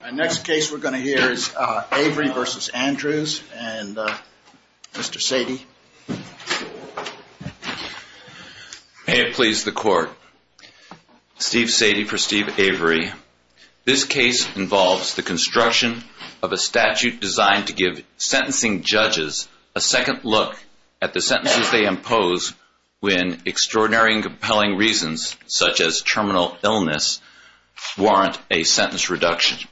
The next case we are going to hear is Avery v. Andrews and Mr. Sadie. May it please the court, Steve Sadie for Steve Avery. This case involves the construction of a statute designed to give sentencing judges a second look at the sentences they impose when extraordinary and compelling reasons, such as terminal illness, warrant a sentence reduction.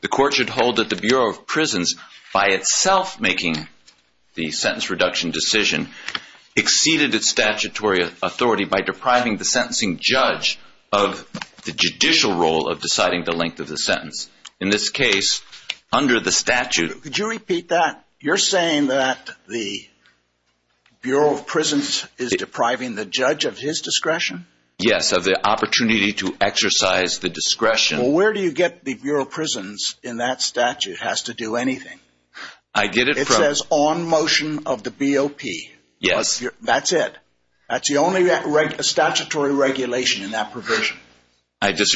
The court should hold that the Bureau of Prisons, by itself making the sentence reduction decision, exceeded its statutory authority by depriving the sentencing judge of the judicial role of deciding the length of the sentence. In this case, under the statute could you repeat that? You're saying that the Bureau of Prisons is depriving the judge of his discretion? Yes, of the opportunity to exercise the discretion. Well, where do you get the Bureau of Prisons in that statute has to do anything. I get it. It says on motion of the BOP. Yes. That's it. That's the only statutory regulation in that provision. I But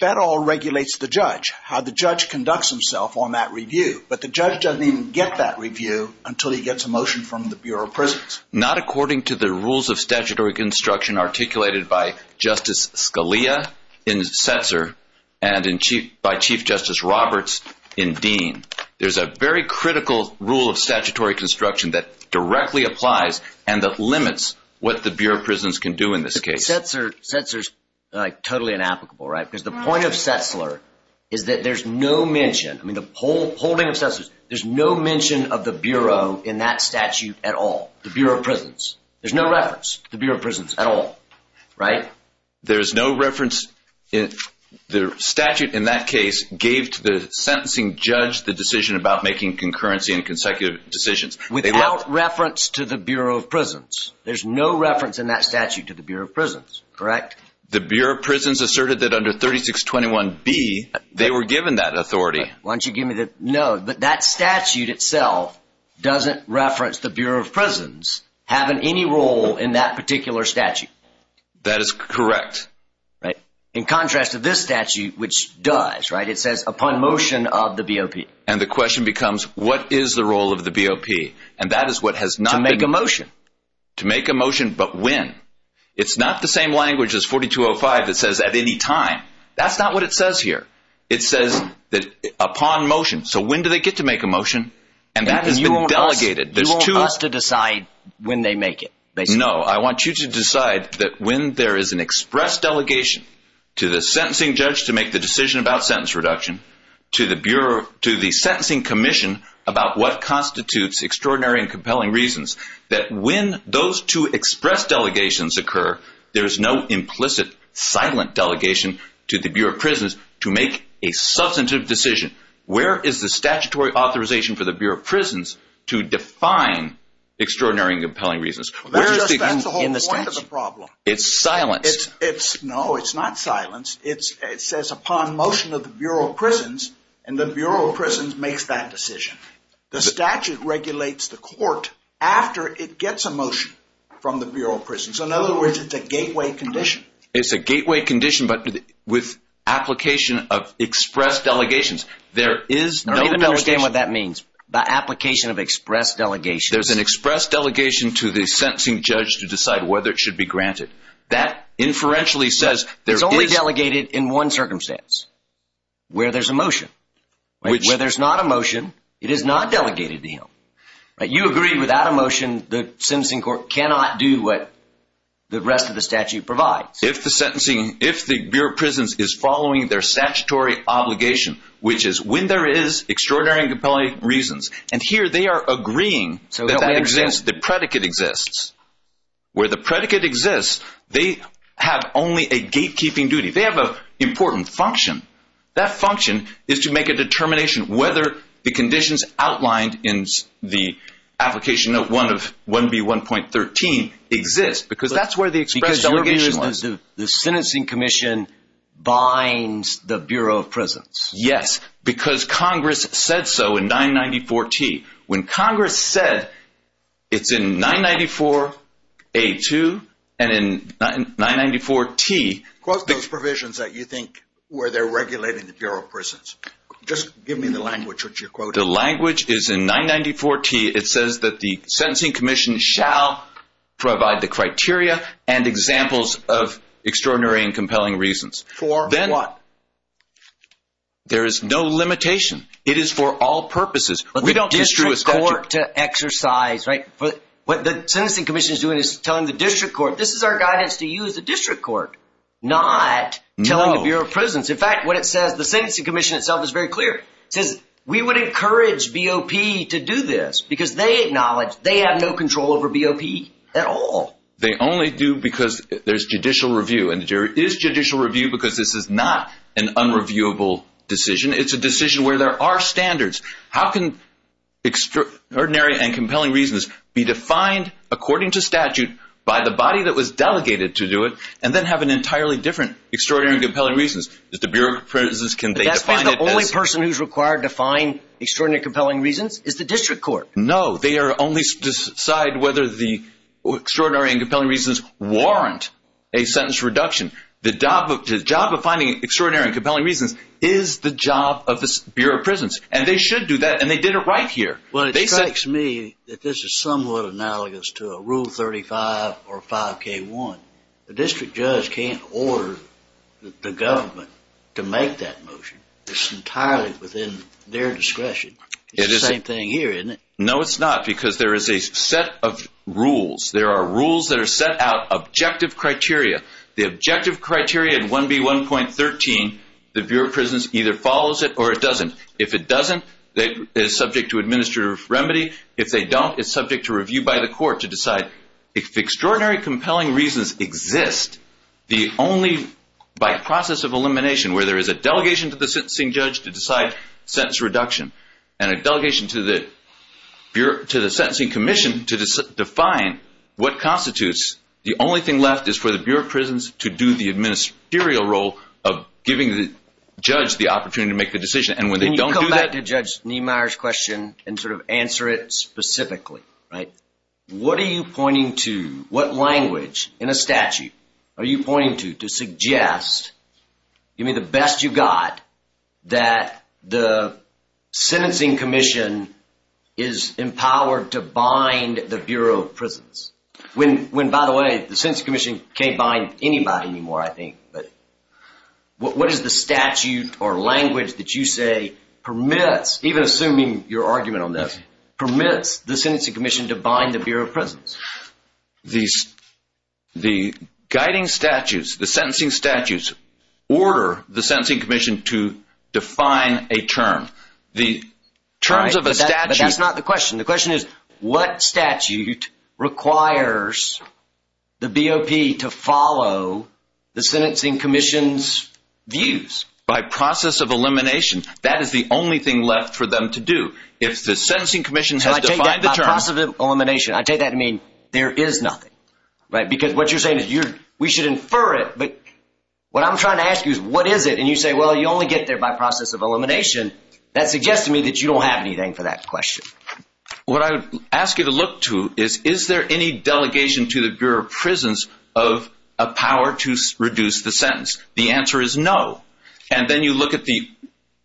that all regulates the judge, how the judge conducts himself on that review. But the judge doesn't even get that review until he gets a motion from the Bureau of Prisons. Not according to the rules of statutory construction articulated by Justice Scalia in Setzer and in chief by Chief Justice Roberts in Dean. There's a very critical rule of statutory construction that directly applies and that limits what the Bureau of Prisons can do in this case. Setzer is totally inapplicable, right? Because the point of Setzler is that there's no mention. I mean, the whole holding of Setzler, there's no mention of the Bureau in that statute at all. The Bureau of Prisons. There's no reference to the Bureau of Prisons at all, right? There's no reference. The statute in that case gave to the sentencing judge the decision about making concurrency and consecutive decisions. Without reference to the Bureau of Prisons. There's no reference in that statute to the Bureau of Prisons, correct? The Bureau of Prisons asserted that under 3621B, they were given that authority. Why don't you give me that? No, but that statute itself doesn't reference the Bureau of Prisons having any role in that particular statute. That is correct, right? In contrast to this statute, which does, right? It says upon motion of the BOP. And the question becomes, what is the role of the BOP? And that is what has not been. To make a motion. To make a motion, but when? It's not the same language as 4205 that says at any time. That's not what it says here. It says that upon motion. So when do they get to make a motion? And that has been delegated. You want us to decide when they make it? No, I want you to decide that when there is an express delegation to the sentencing judge to make the decision about what constitutes extraordinary and compelling reasons. That when those two express delegations occur, there is no implicit silent delegation to the Bureau of Prisons to make a substantive decision. Where is the statutory authorization for the Bureau of Prisons to define extraordinary and compelling reasons? That's the whole point of the problem. It's silenced. No, it's not silenced. It says upon motion of the Bureau of Prisons, and the Bureau of Prisons makes that decision. The statute regulates the court after it gets a motion from the Bureau of Prisons. In other words, it's a gateway condition. It's a gateway condition, but with application of express delegations, there is no delegation. I don't understand what that means. The application of express delegations. There's an express delegation to the sentencing judge to decide whether it should be granted. That inferentially says there is... It's only without a motion. It is not delegated to him. You agree without a motion, the sentencing court cannot do what the rest of the statute provides. If the Bureau of Prisons is following their statutory obligation, which is when there is extraordinary and compelling reasons, and here they are agreeing that that exists, the predicate exists. Where the predicate exists, they have only a gatekeeping duty. They have an important function. That function is to make a determination whether the conditions outlined in the application of 1B1.13 exist, because that's where the express delegation was. The sentencing commission binds the Bureau of Prisons. Yes, because Congress said so in 994T. When Congress said it's in 994A2 and in 994T... The language is in 994T. It says that the sentencing commission shall provide the criteria and examples of extraordinary and compelling reasons. For what? There is no limitation. It is for all purposes. But the district court to exercise... What the sentencing commission is doing is telling the district court, this is our guidance to you as a district court, not telling the Bureau of Prisons. In fact, what it says, the sentencing commission itself is very clear. It says, we would encourage BOP to do this, because they acknowledge they have no control over BOP at all. They only do because there's judicial review, and there is judicial review because this is not an unreviewable decision. It's a decision where there are standards. How can extraordinary and compelling reasons be defined according to statute by the body that was delegated to do it, and then have an entirely different extraordinary and compelling reasons? Does the Bureau of Prisons, can they define it as... That means the only person who's required to find extraordinary and compelling reasons is the district court. No. They only decide whether the extraordinary and compelling reasons warrant a sentence reduction. The job of finding extraordinary and compelling reasons is the job of the Bureau of Prisons, and they should do that, and they did it right here. Well, it strikes me that this is somewhat analogous to a Rule 35 or 5K1. The district judge can't order the government to make that motion. It's entirely within their discretion. It's the same thing here, isn't it? No, it's not, because there is a set of rules. There are rules that are set out, objective criteria. The objective criteria in 1B1.13, the Bureau of Prisons either follows it or it doesn't. If it doesn't, it is subject to administrative remedy. If they don't, it's subject to review by the court to decide. If extraordinary and compelling reasons exist, the only, by process of elimination, where there is a delegation to the sentencing judge to decide sentence reduction, and a delegation to the sentencing commission to define what constitutes, the only thing left is for the Bureau of Prisons to do the administerial role of giving the judge the opportunity to make the decision, and when they don't Can you go back to Judge Niemeyer's question and sort of answer it specifically, right? What are you pointing to, what language in a statute are you pointing to, to suggest, give me the best you've got, that the sentencing commission is empowered to bind the Bureau of Prisons? When, by the way, the sentencing commission can't bind anybody anymore, I think, but what is the statute or language that you say permits, even assuming your argument on this, permits the sentencing commission to bind the Bureau of Prisons? The guiding statutes, the sentencing statutes, order the sentencing commission to define a term. The terms of a statute... Right, but that's not the question. The question is, what statute requires the BOP to follow the sentencing commission's views? By process of elimination, that is the only thing left for them to do. If the sentencing commission has defined the term... By process of elimination, I take that to mean there is nothing, right? Because what you're saying is, we should infer it, but what I'm trying to ask you is, what is it? And you say, well, you only get there by process of elimination. That suggests to me that you don't have anything for that question. What I would ask you to look to is, is there any delegation to the Bureau of Prisons of a power to reduce the sentence? The answer is no. And then you look at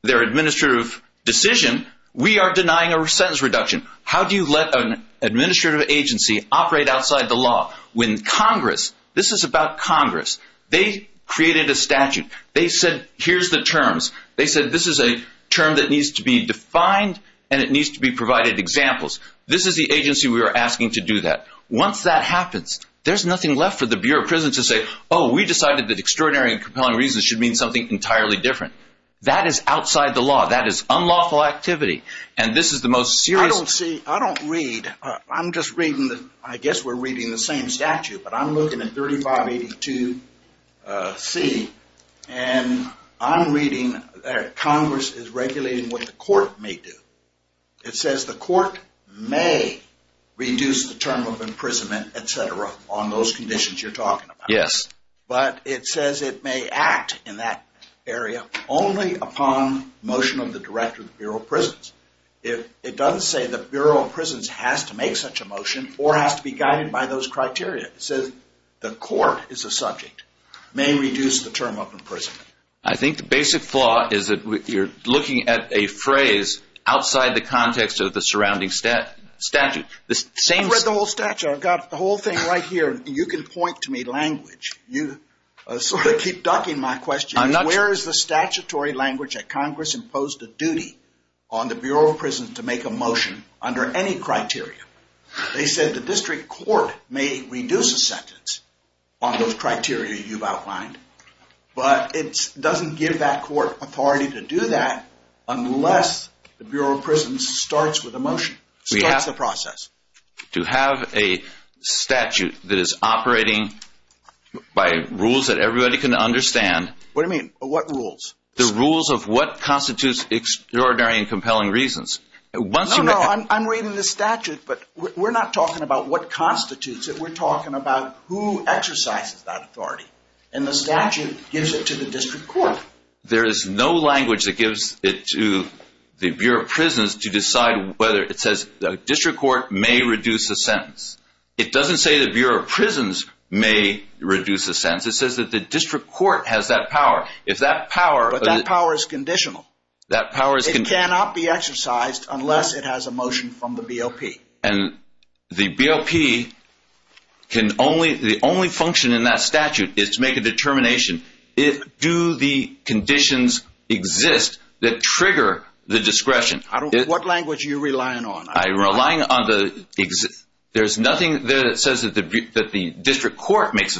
their administrative decision, we are denying a sentence reduction. How do you let an administrative agency operate outside the law when Congress, this is about Congress, they created a statute. They said, here's the terms. They said, this is a term that needs to be defined and it needs to be provided examples. This is the agency we are asking to do that. Once that happens, there's nothing left for the Bureau of Prisons to say, oh, we decided that extraordinary and compelling reasons should mean something entirely different. That is outside the law. That is unlawful activity. And this is the most serious... I don't read, I'm just reading the, I guess we're reading the same statute, but I'm looking at 3582C and I'm reading that Congress is regulating what the court may do. It says the court may reduce the term of imprisonment, et cetera, on those conditions you're talking about. But it says it may act in that area only upon motion of the director of the Bureau of Prisons. It doesn't say the Bureau of Prisons has to make such a motion or has to be guided by those criteria. It says the court is a subject, may reduce the term of imprisonment. I think the basic flaw is that you're looking at a phrase outside the context of the surrounding statute. I've read the whole statute. I've got the whole thing right here and you can point to me language. You sort of keep ducking my question. Where is the statutory language that Congress imposed a duty on the Bureau of Prisons to make a motion under any criteria? They said the district court may reduce a sentence on those criteria you've outlined, but it doesn't give that court authority to do that unless the Bureau of Prisons starts with a motion. Starts the process. To have a statute that is operating by rules that everybody can understand. What do you mean? What rules? The rules of what constitutes extraordinary and compelling reasons. Once you- I'm reading the statute, but we're not talking about what constitutes it. We're talking about who exercises that authority. And the statute gives it to the district court. There is no language that gives it to the Bureau of Prisons to decide whether it says the district court may reduce a sentence. It doesn't say the Bureau of Prisons may reduce a sentence. It says that the district court has that power. If that power- But that power is conditional. That power is- It cannot be exercised unless it has a motion from the BOP. And the BOP can only- the only function in that statute is to make a determination, do the conditions exist that trigger the discretion? What language are you relying on? I'm relying on the- there's nothing there that says that the district court makes a No, no, that's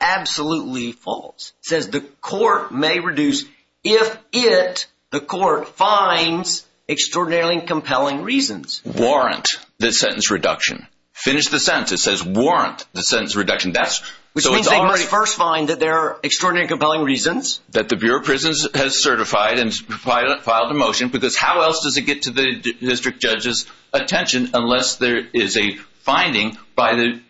absolutely false. It says the court may reduce if it, the court, finds extraordinarily compelling reasons. Warrant the sentence reduction. Finish the sentence. It says warrant the sentence reduction. That's- Which means they first find that there are extraordinary compelling reasons. That the Bureau of Prisons has certified and filed a motion. Because how else does it get to the district judge's attention unless there is a finding by the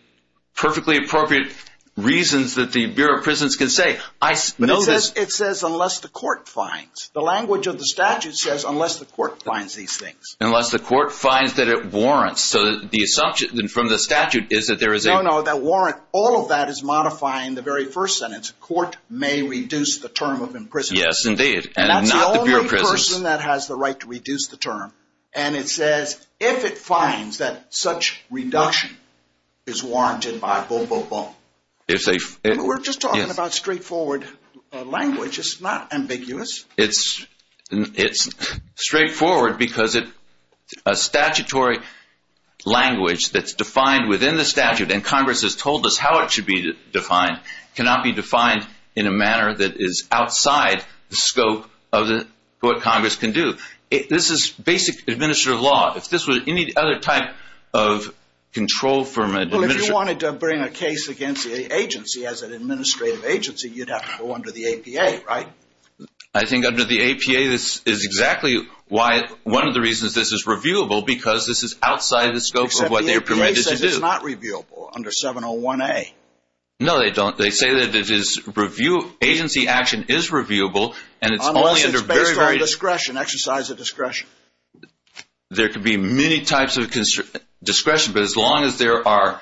perfectly appropriate reasons that the Bureau of Prisons can say. I know that- It says unless the court finds. The language of the statute says unless the court finds these things. Unless the court finds that it warrants. So the assumption from the statute is that there is a- No, no, that warrant, all of that is modifying the very first sentence. Court may reduce the term of imprisonment. Yes, indeed. And not the Bureau of Prisons- And it says if it finds that such reduction is warranted by, boom, boom, boom. If they- We're just talking about straightforward language. It's not ambiguous. It's straightforward because a statutory language that's defined within the statute, and Congress has told us how it should be defined, cannot be defined in a manner that is outside the basic administrative law. If this was any other type of control from an administrative- Well, if you wanted to bring a case against the agency as an administrative agency, you'd have to go under the APA, right? I think under the APA, this is exactly why, one of the reasons this is reviewable, because this is outside the scope of what they're permitted to do. Except the APA says it's not reviewable under 701A. No, they don't. They say that it is review, agency action is reviewable, and it's only under very, very- There could be many types of discretion, but as long as there are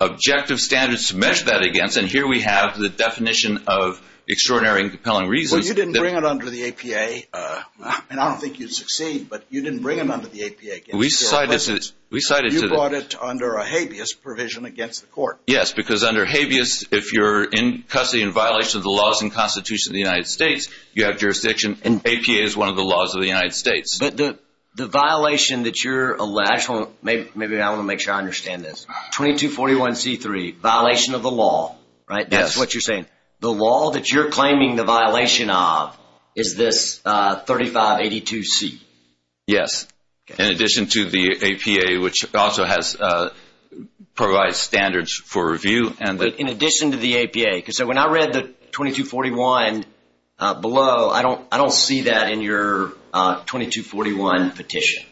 objective standards to measure that against, and here we have the definition of extraordinary and compelling reasons that- Well, you didn't bring it under the APA, and I don't think you'd succeed, but you didn't bring it under the APA against- We cited to the- You brought it under a habeas provision against the court. Yes, because under habeas, if you're in custody in violation of the laws and constitution of the United States, you have jurisdiction, and APA is one of the laws of the United States. But the violation that you're- Actually, maybe I want to make sure I understand this. 2241C3, violation of the law, right? That's what you're saying. The law that you're claiming the violation of is this 3582C. Yes. In addition to the APA, which also provides standards for review, and the- In addition to the APA. When I read the 2241 below, I don't see that in your 2241 petition.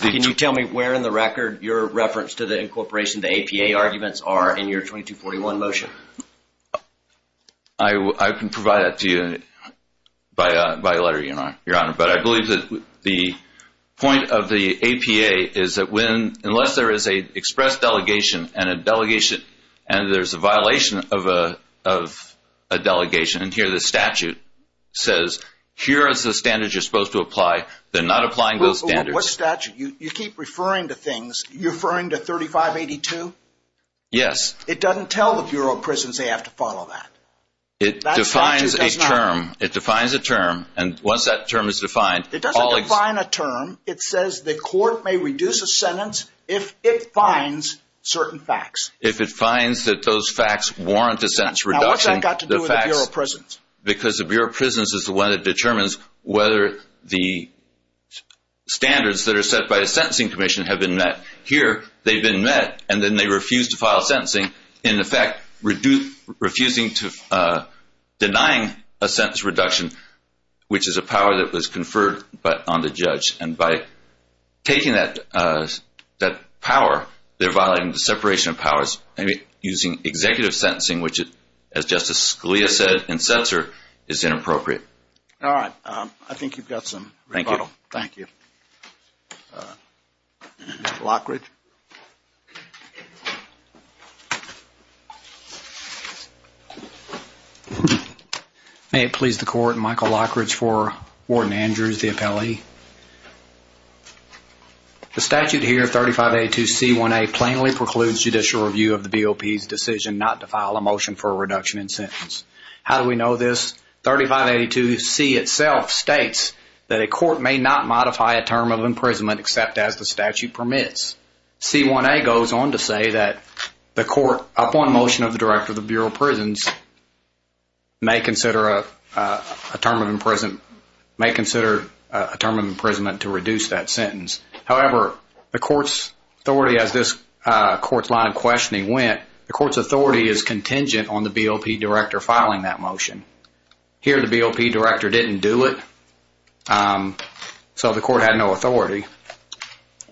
Can you tell me where in the record your reference to the incorporation of the APA arguments are in your 2241 motion? I can provide that to you by letter, Your Honor. But I believe that the point of the APA is that unless there is an express delegation and a delegation, and there's a violation of a delegation, and here the statute says, here is the standards you're supposed to apply, they're not applying those standards. What statute? You keep referring to things, you're referring to 3582? Yes. It doesn't tell the Bureau of Prisons they have to follow that. It defines a term. It defines a term. And once that term is defined- It doesn't define a term. It says the court may reduce a sentence if it finds certain facts. If it finds that those facts warrant a sentence reduction, the facts- Now, what's that got to do with the Bureau of Prisons? Because the Bureau of Prisons is the one that determines whether the standards that are set by the Sentencing Commission have been met. Here, they've been met, and then they refuse to file a sentencing, in effect, refusing to denying a sentence reduction, which is a power that was conferred on the judge and by taking that power, they're violating the separation of powers and using executive sentencing, which as Justice Scalia said in Setzer, is inappropriate. All right. I think you've got some rebuttal. Thank you. Thank you. Michael Lockridge. May it please the court, Michael Lockridge for Warden Andrews, the appellee. The statute here, 3582C1A, plainly precludes judicial review of the BOP's decision not to file a motion for a reduction in sentence. How do we know this? 3582C itself states that a court may not modify a term of imprisonment except as the statute permits. C1A goes on to say that the court, upon motion of the Director of the Bureau of Prisons, may consider a term of imprisonment to reduce that sentence. However, the court's authority, as this court's line of questioning went, the court's authority is contingent on the BOP Director filing that motion. Here the BOP Director didn't do it, so the court had no authority.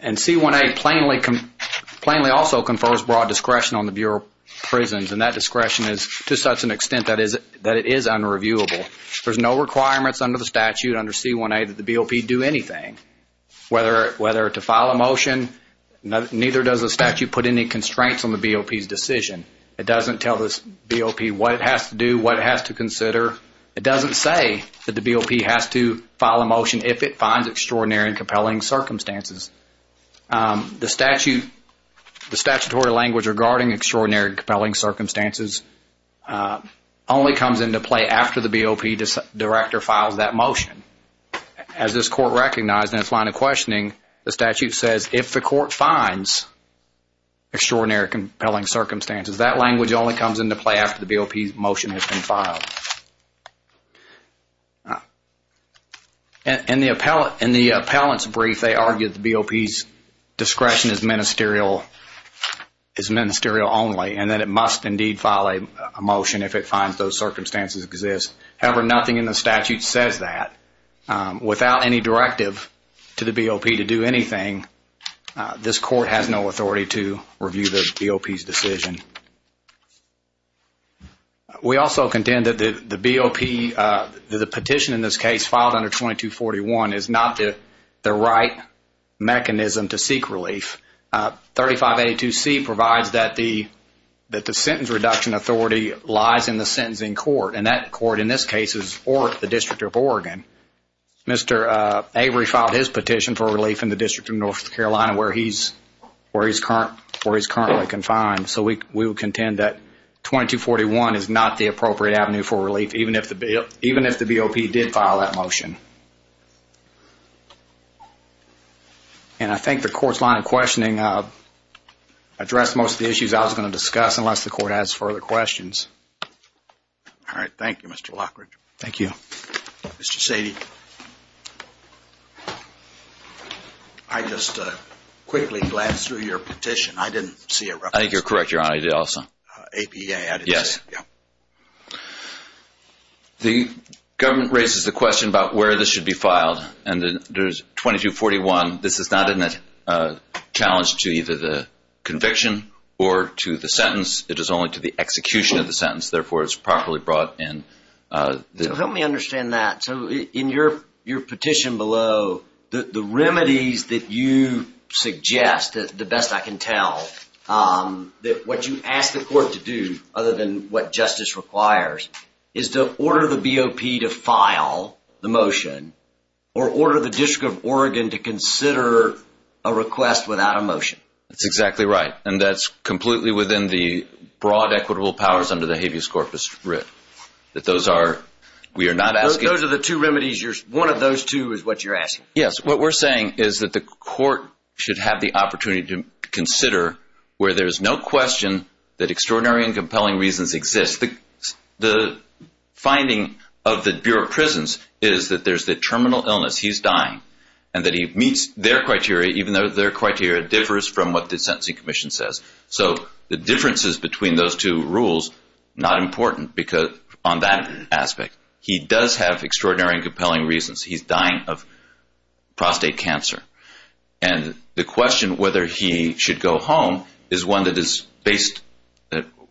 And C1A plainly also confers broad discretion on the Bureau of Prisons, and that discretion is to such an extent that it is unreviewable. There's no requirements under the statute, under C1A, that the BOP do anything, whether to file a motion, neither does the statute put any constraints on the BOP's decision. It doesn't tell the BOP what it has to do, what it has to consider. It doesn't say that the BOP has to file a motion if it finds extraordinary and compelling circumstances. The statute, the statutory language regarding extraordinary and compelling circumstances only comes into play after the BOP Director files that motion. As this court recognized in its line of questioning, the statute says if the court finds extraordinary and compelling circumstances, that language only comes into play after the BOP's motion has been filed. In the appellant's brief, they argued the BOP's discretion is ministerial only, and that it must indeed file a motion if it finds those circumstances exist. However, nothing in the statute says that. Without any directive to the BOP to do anything, this court has no authority to review the BOP's decision. We also contend that the BOP, the petition in this case filed under 2241 is not the right mechanism to seek relief. 3582C provides that the sentence reduction authority lies in the sentencing court, and that court in this case is the District of Oregon. Mr. Avery filed his petition for relief in the District of North Carolina where he is currently confined. We contend that 2241 is not the appropriate avenue for relief, even if the BOP did file that motion. I think the court's line of questioning addressed most of the issues I was going to discuss unless the court has further questions. Thank you, Mr. Lockridge. Thank you. Mr. Sadie, I just quickly glanced through your petition. I didn't see it. I think you're correct, Your Honor. I did also. APA. I didn't see it. Yes. The government raises the question about where this should be filed, and there's 2241. This is not a challenge to either the conviction or to the sentence. It is only to the execution of the sentence, therefore it's properly brought in. Help me understand that. In your petition below, the remedies that you suggest, the best I can tell, that what you ask the court to do, other than what justice requires, is to order the BOP to file the motion or order the District of Oregon to consider a request without a motion. That's exactly right. That's completely within the broad equitable powers under the habeas corpus writ. Those are the two remedies. One of those two is what you're asking. Yes. What we're saying is that the court should have the opportunity to consider where there's no question that extraordinary and compelling reasons exist. The finding of the Bureau of Prisons is that there's the terminal illness, he's dying, and that he meets their criteria, even though their criteria differs from what the Sentencing Commission says. The differences between those two rules, not important on that aspect. He does have extraordinary and compelling reasons. He's dying of prostate cancer. The question whether he should go home is one that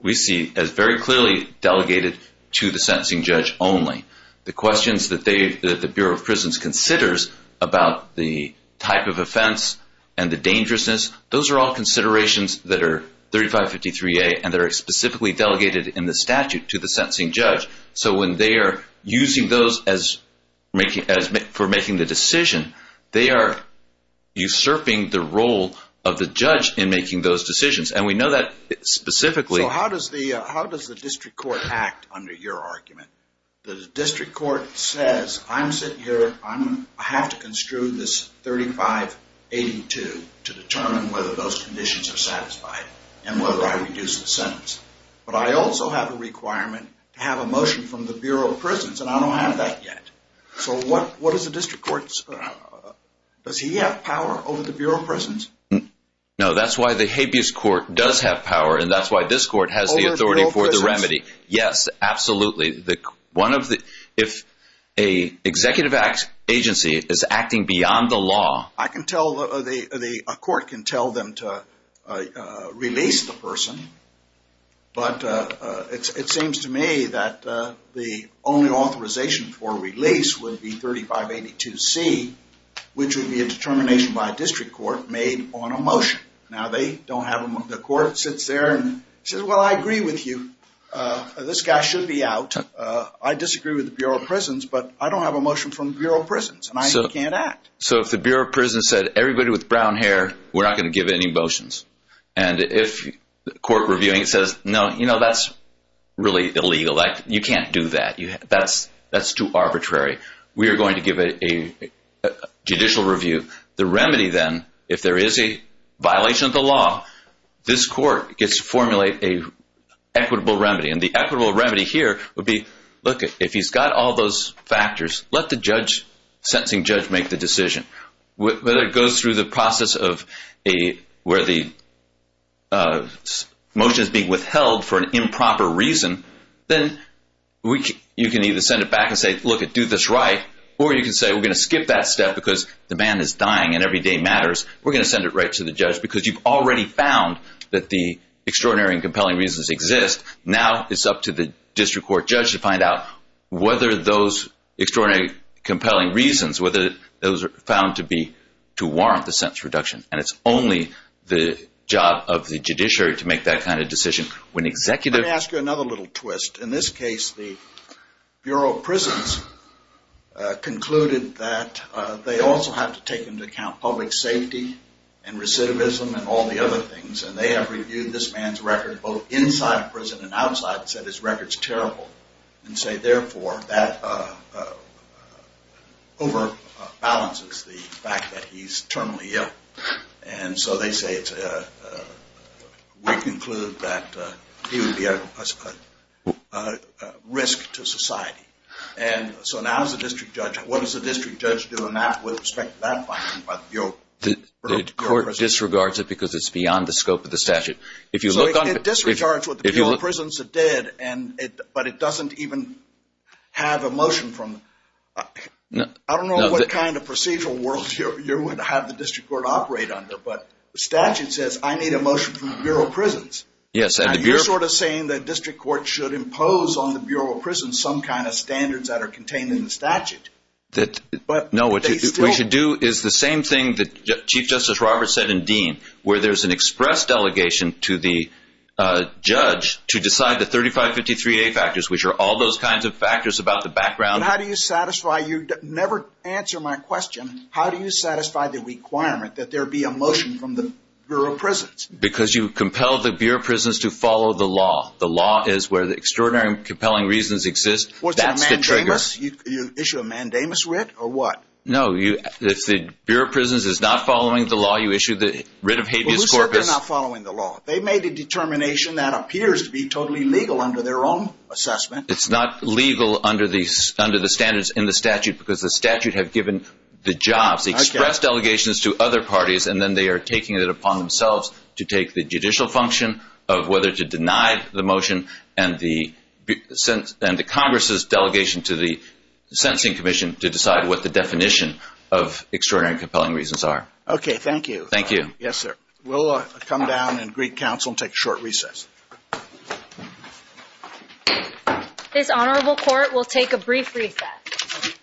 we see as very clearly delegated to the sentencing judge only. The questions that the Bureau of Prisons considers about the type of offense and the dangerousness, those are all considerations that are 3553A, and they're specifically delegated in the statute to the sentencing judge. When they're using those for making the decision, they are usurping the role of the judge in making those decisions. We know that specifically- How does the district court act under your argument? The district court says, I'm sitting here, I have to construe this 3582 to determine whether those conditions are satisfied, and whether I reduce the sentence. But I also have a requirement to have a motion from the Bureau of Prisons, and I don't have that yet. So what does the district court, does he have power over the Bureau of Prisons? No, that's why the habeas court does have power, and that's why this court has the authority for the remedy. Over the Bureau of Prisons? Yes, absolutely. If an executive agency is acting beyond the law- I can tell, a court can tell them to release the person, but it seems to me that the only authorization for release would be 3582C, which would be a determination by a district court made on a motion. Now they don't have them, the court sits there and says, well, I agree with you. This guy should be out. I disagree with the Bureau of Prisons, but I don't have a motion from the Bureau of Prisons, and I can't act. So if the Bureau of Prisons said, everybody with brown hair, we're not going to give any motions. And if the court reviewing says, no, you know, that's really illegal, you can't do that. That's too arbitrary. We are going to give a judicial review. The remedy then, if there is a violation of the law, this court gets to formulate an equitable remedy. And the equitable remedy here would be, look, if he's got all those factors, let the sentencing judge make the decision. Whether it goes through the process of where the motion is being withheld for an improper reason, then you can either send it back and say, look, do this right, or you can say we're going to skip that step because the man is dying and every day matters. We're going to send it right to the judge, because you've already found that the extraordinary and compelling reasons exist. Now it's up to the district court judge to find out whether those extraordinary, compelling reasons, whether those are found to warrant the sentence reduction. And it's only the job of the judiciary to make that kind of decision. Let me ask you another little twist. In this case, the Bureau of Prisons concluded that they also have to take into account public safety and recidivism and all the other things. And they have reviewed this man's record both inside prison and outside and said his record is terrible. And say, therefore, that overbalances the fact that he's terminally ill. And so they say, we conclude that he would be a risk to society. And so now as a district judge, what does the district judge do in that with respect to that finding by the Bureau of Prisons? The court disregards it because it's beyond the scope of the statute. So it disregards what the Bureau of Prisons did, but it doesn't even have a motion from I don't know what kind of procedural world you're going to have the district court operate under, but the statute says, I need a motion from the Bureau of Prisons. And you're sort of saying that district court should impose on the Bureau of Prisons some kind of standards that are contained in the statute. No, what you should do is the same thing that Chief Justice Roberts said in Dean, where there's an express delegation to the judge to decide the 3553A factors, which are all those kinds of factors about the background. But how do you satisfy, you never answer my question, how do you satisfy the requirement that there be a motion from the Bureau of Prisons? Because you compel the Bureau of Prisons to follow the law. The law is where the extraordinary and compelling reasons exist. That's the trigger. Was that a mandamus? You issue a mandamus writ or what? No, if the Bureau of Prisons is not following the law, you issue the writ of habeas corpus. Well, who said they're not following the law? They made a determination that appears to be totally legal under their own assessment. It's not legal under the standards in the statute because the statute have given the jobs, the express delegations to other parties, and then they are taking it upon themselves to take the judicial function of whether to deny the motion and the Congress's delegation to the sentencing commission to decide what the definition of extraordinary and compelling reasons are. Okay, thank you. Thank you. Yes, sir. We'll come down and greet counsel and take a short recess. This honorable court will take a brief recess.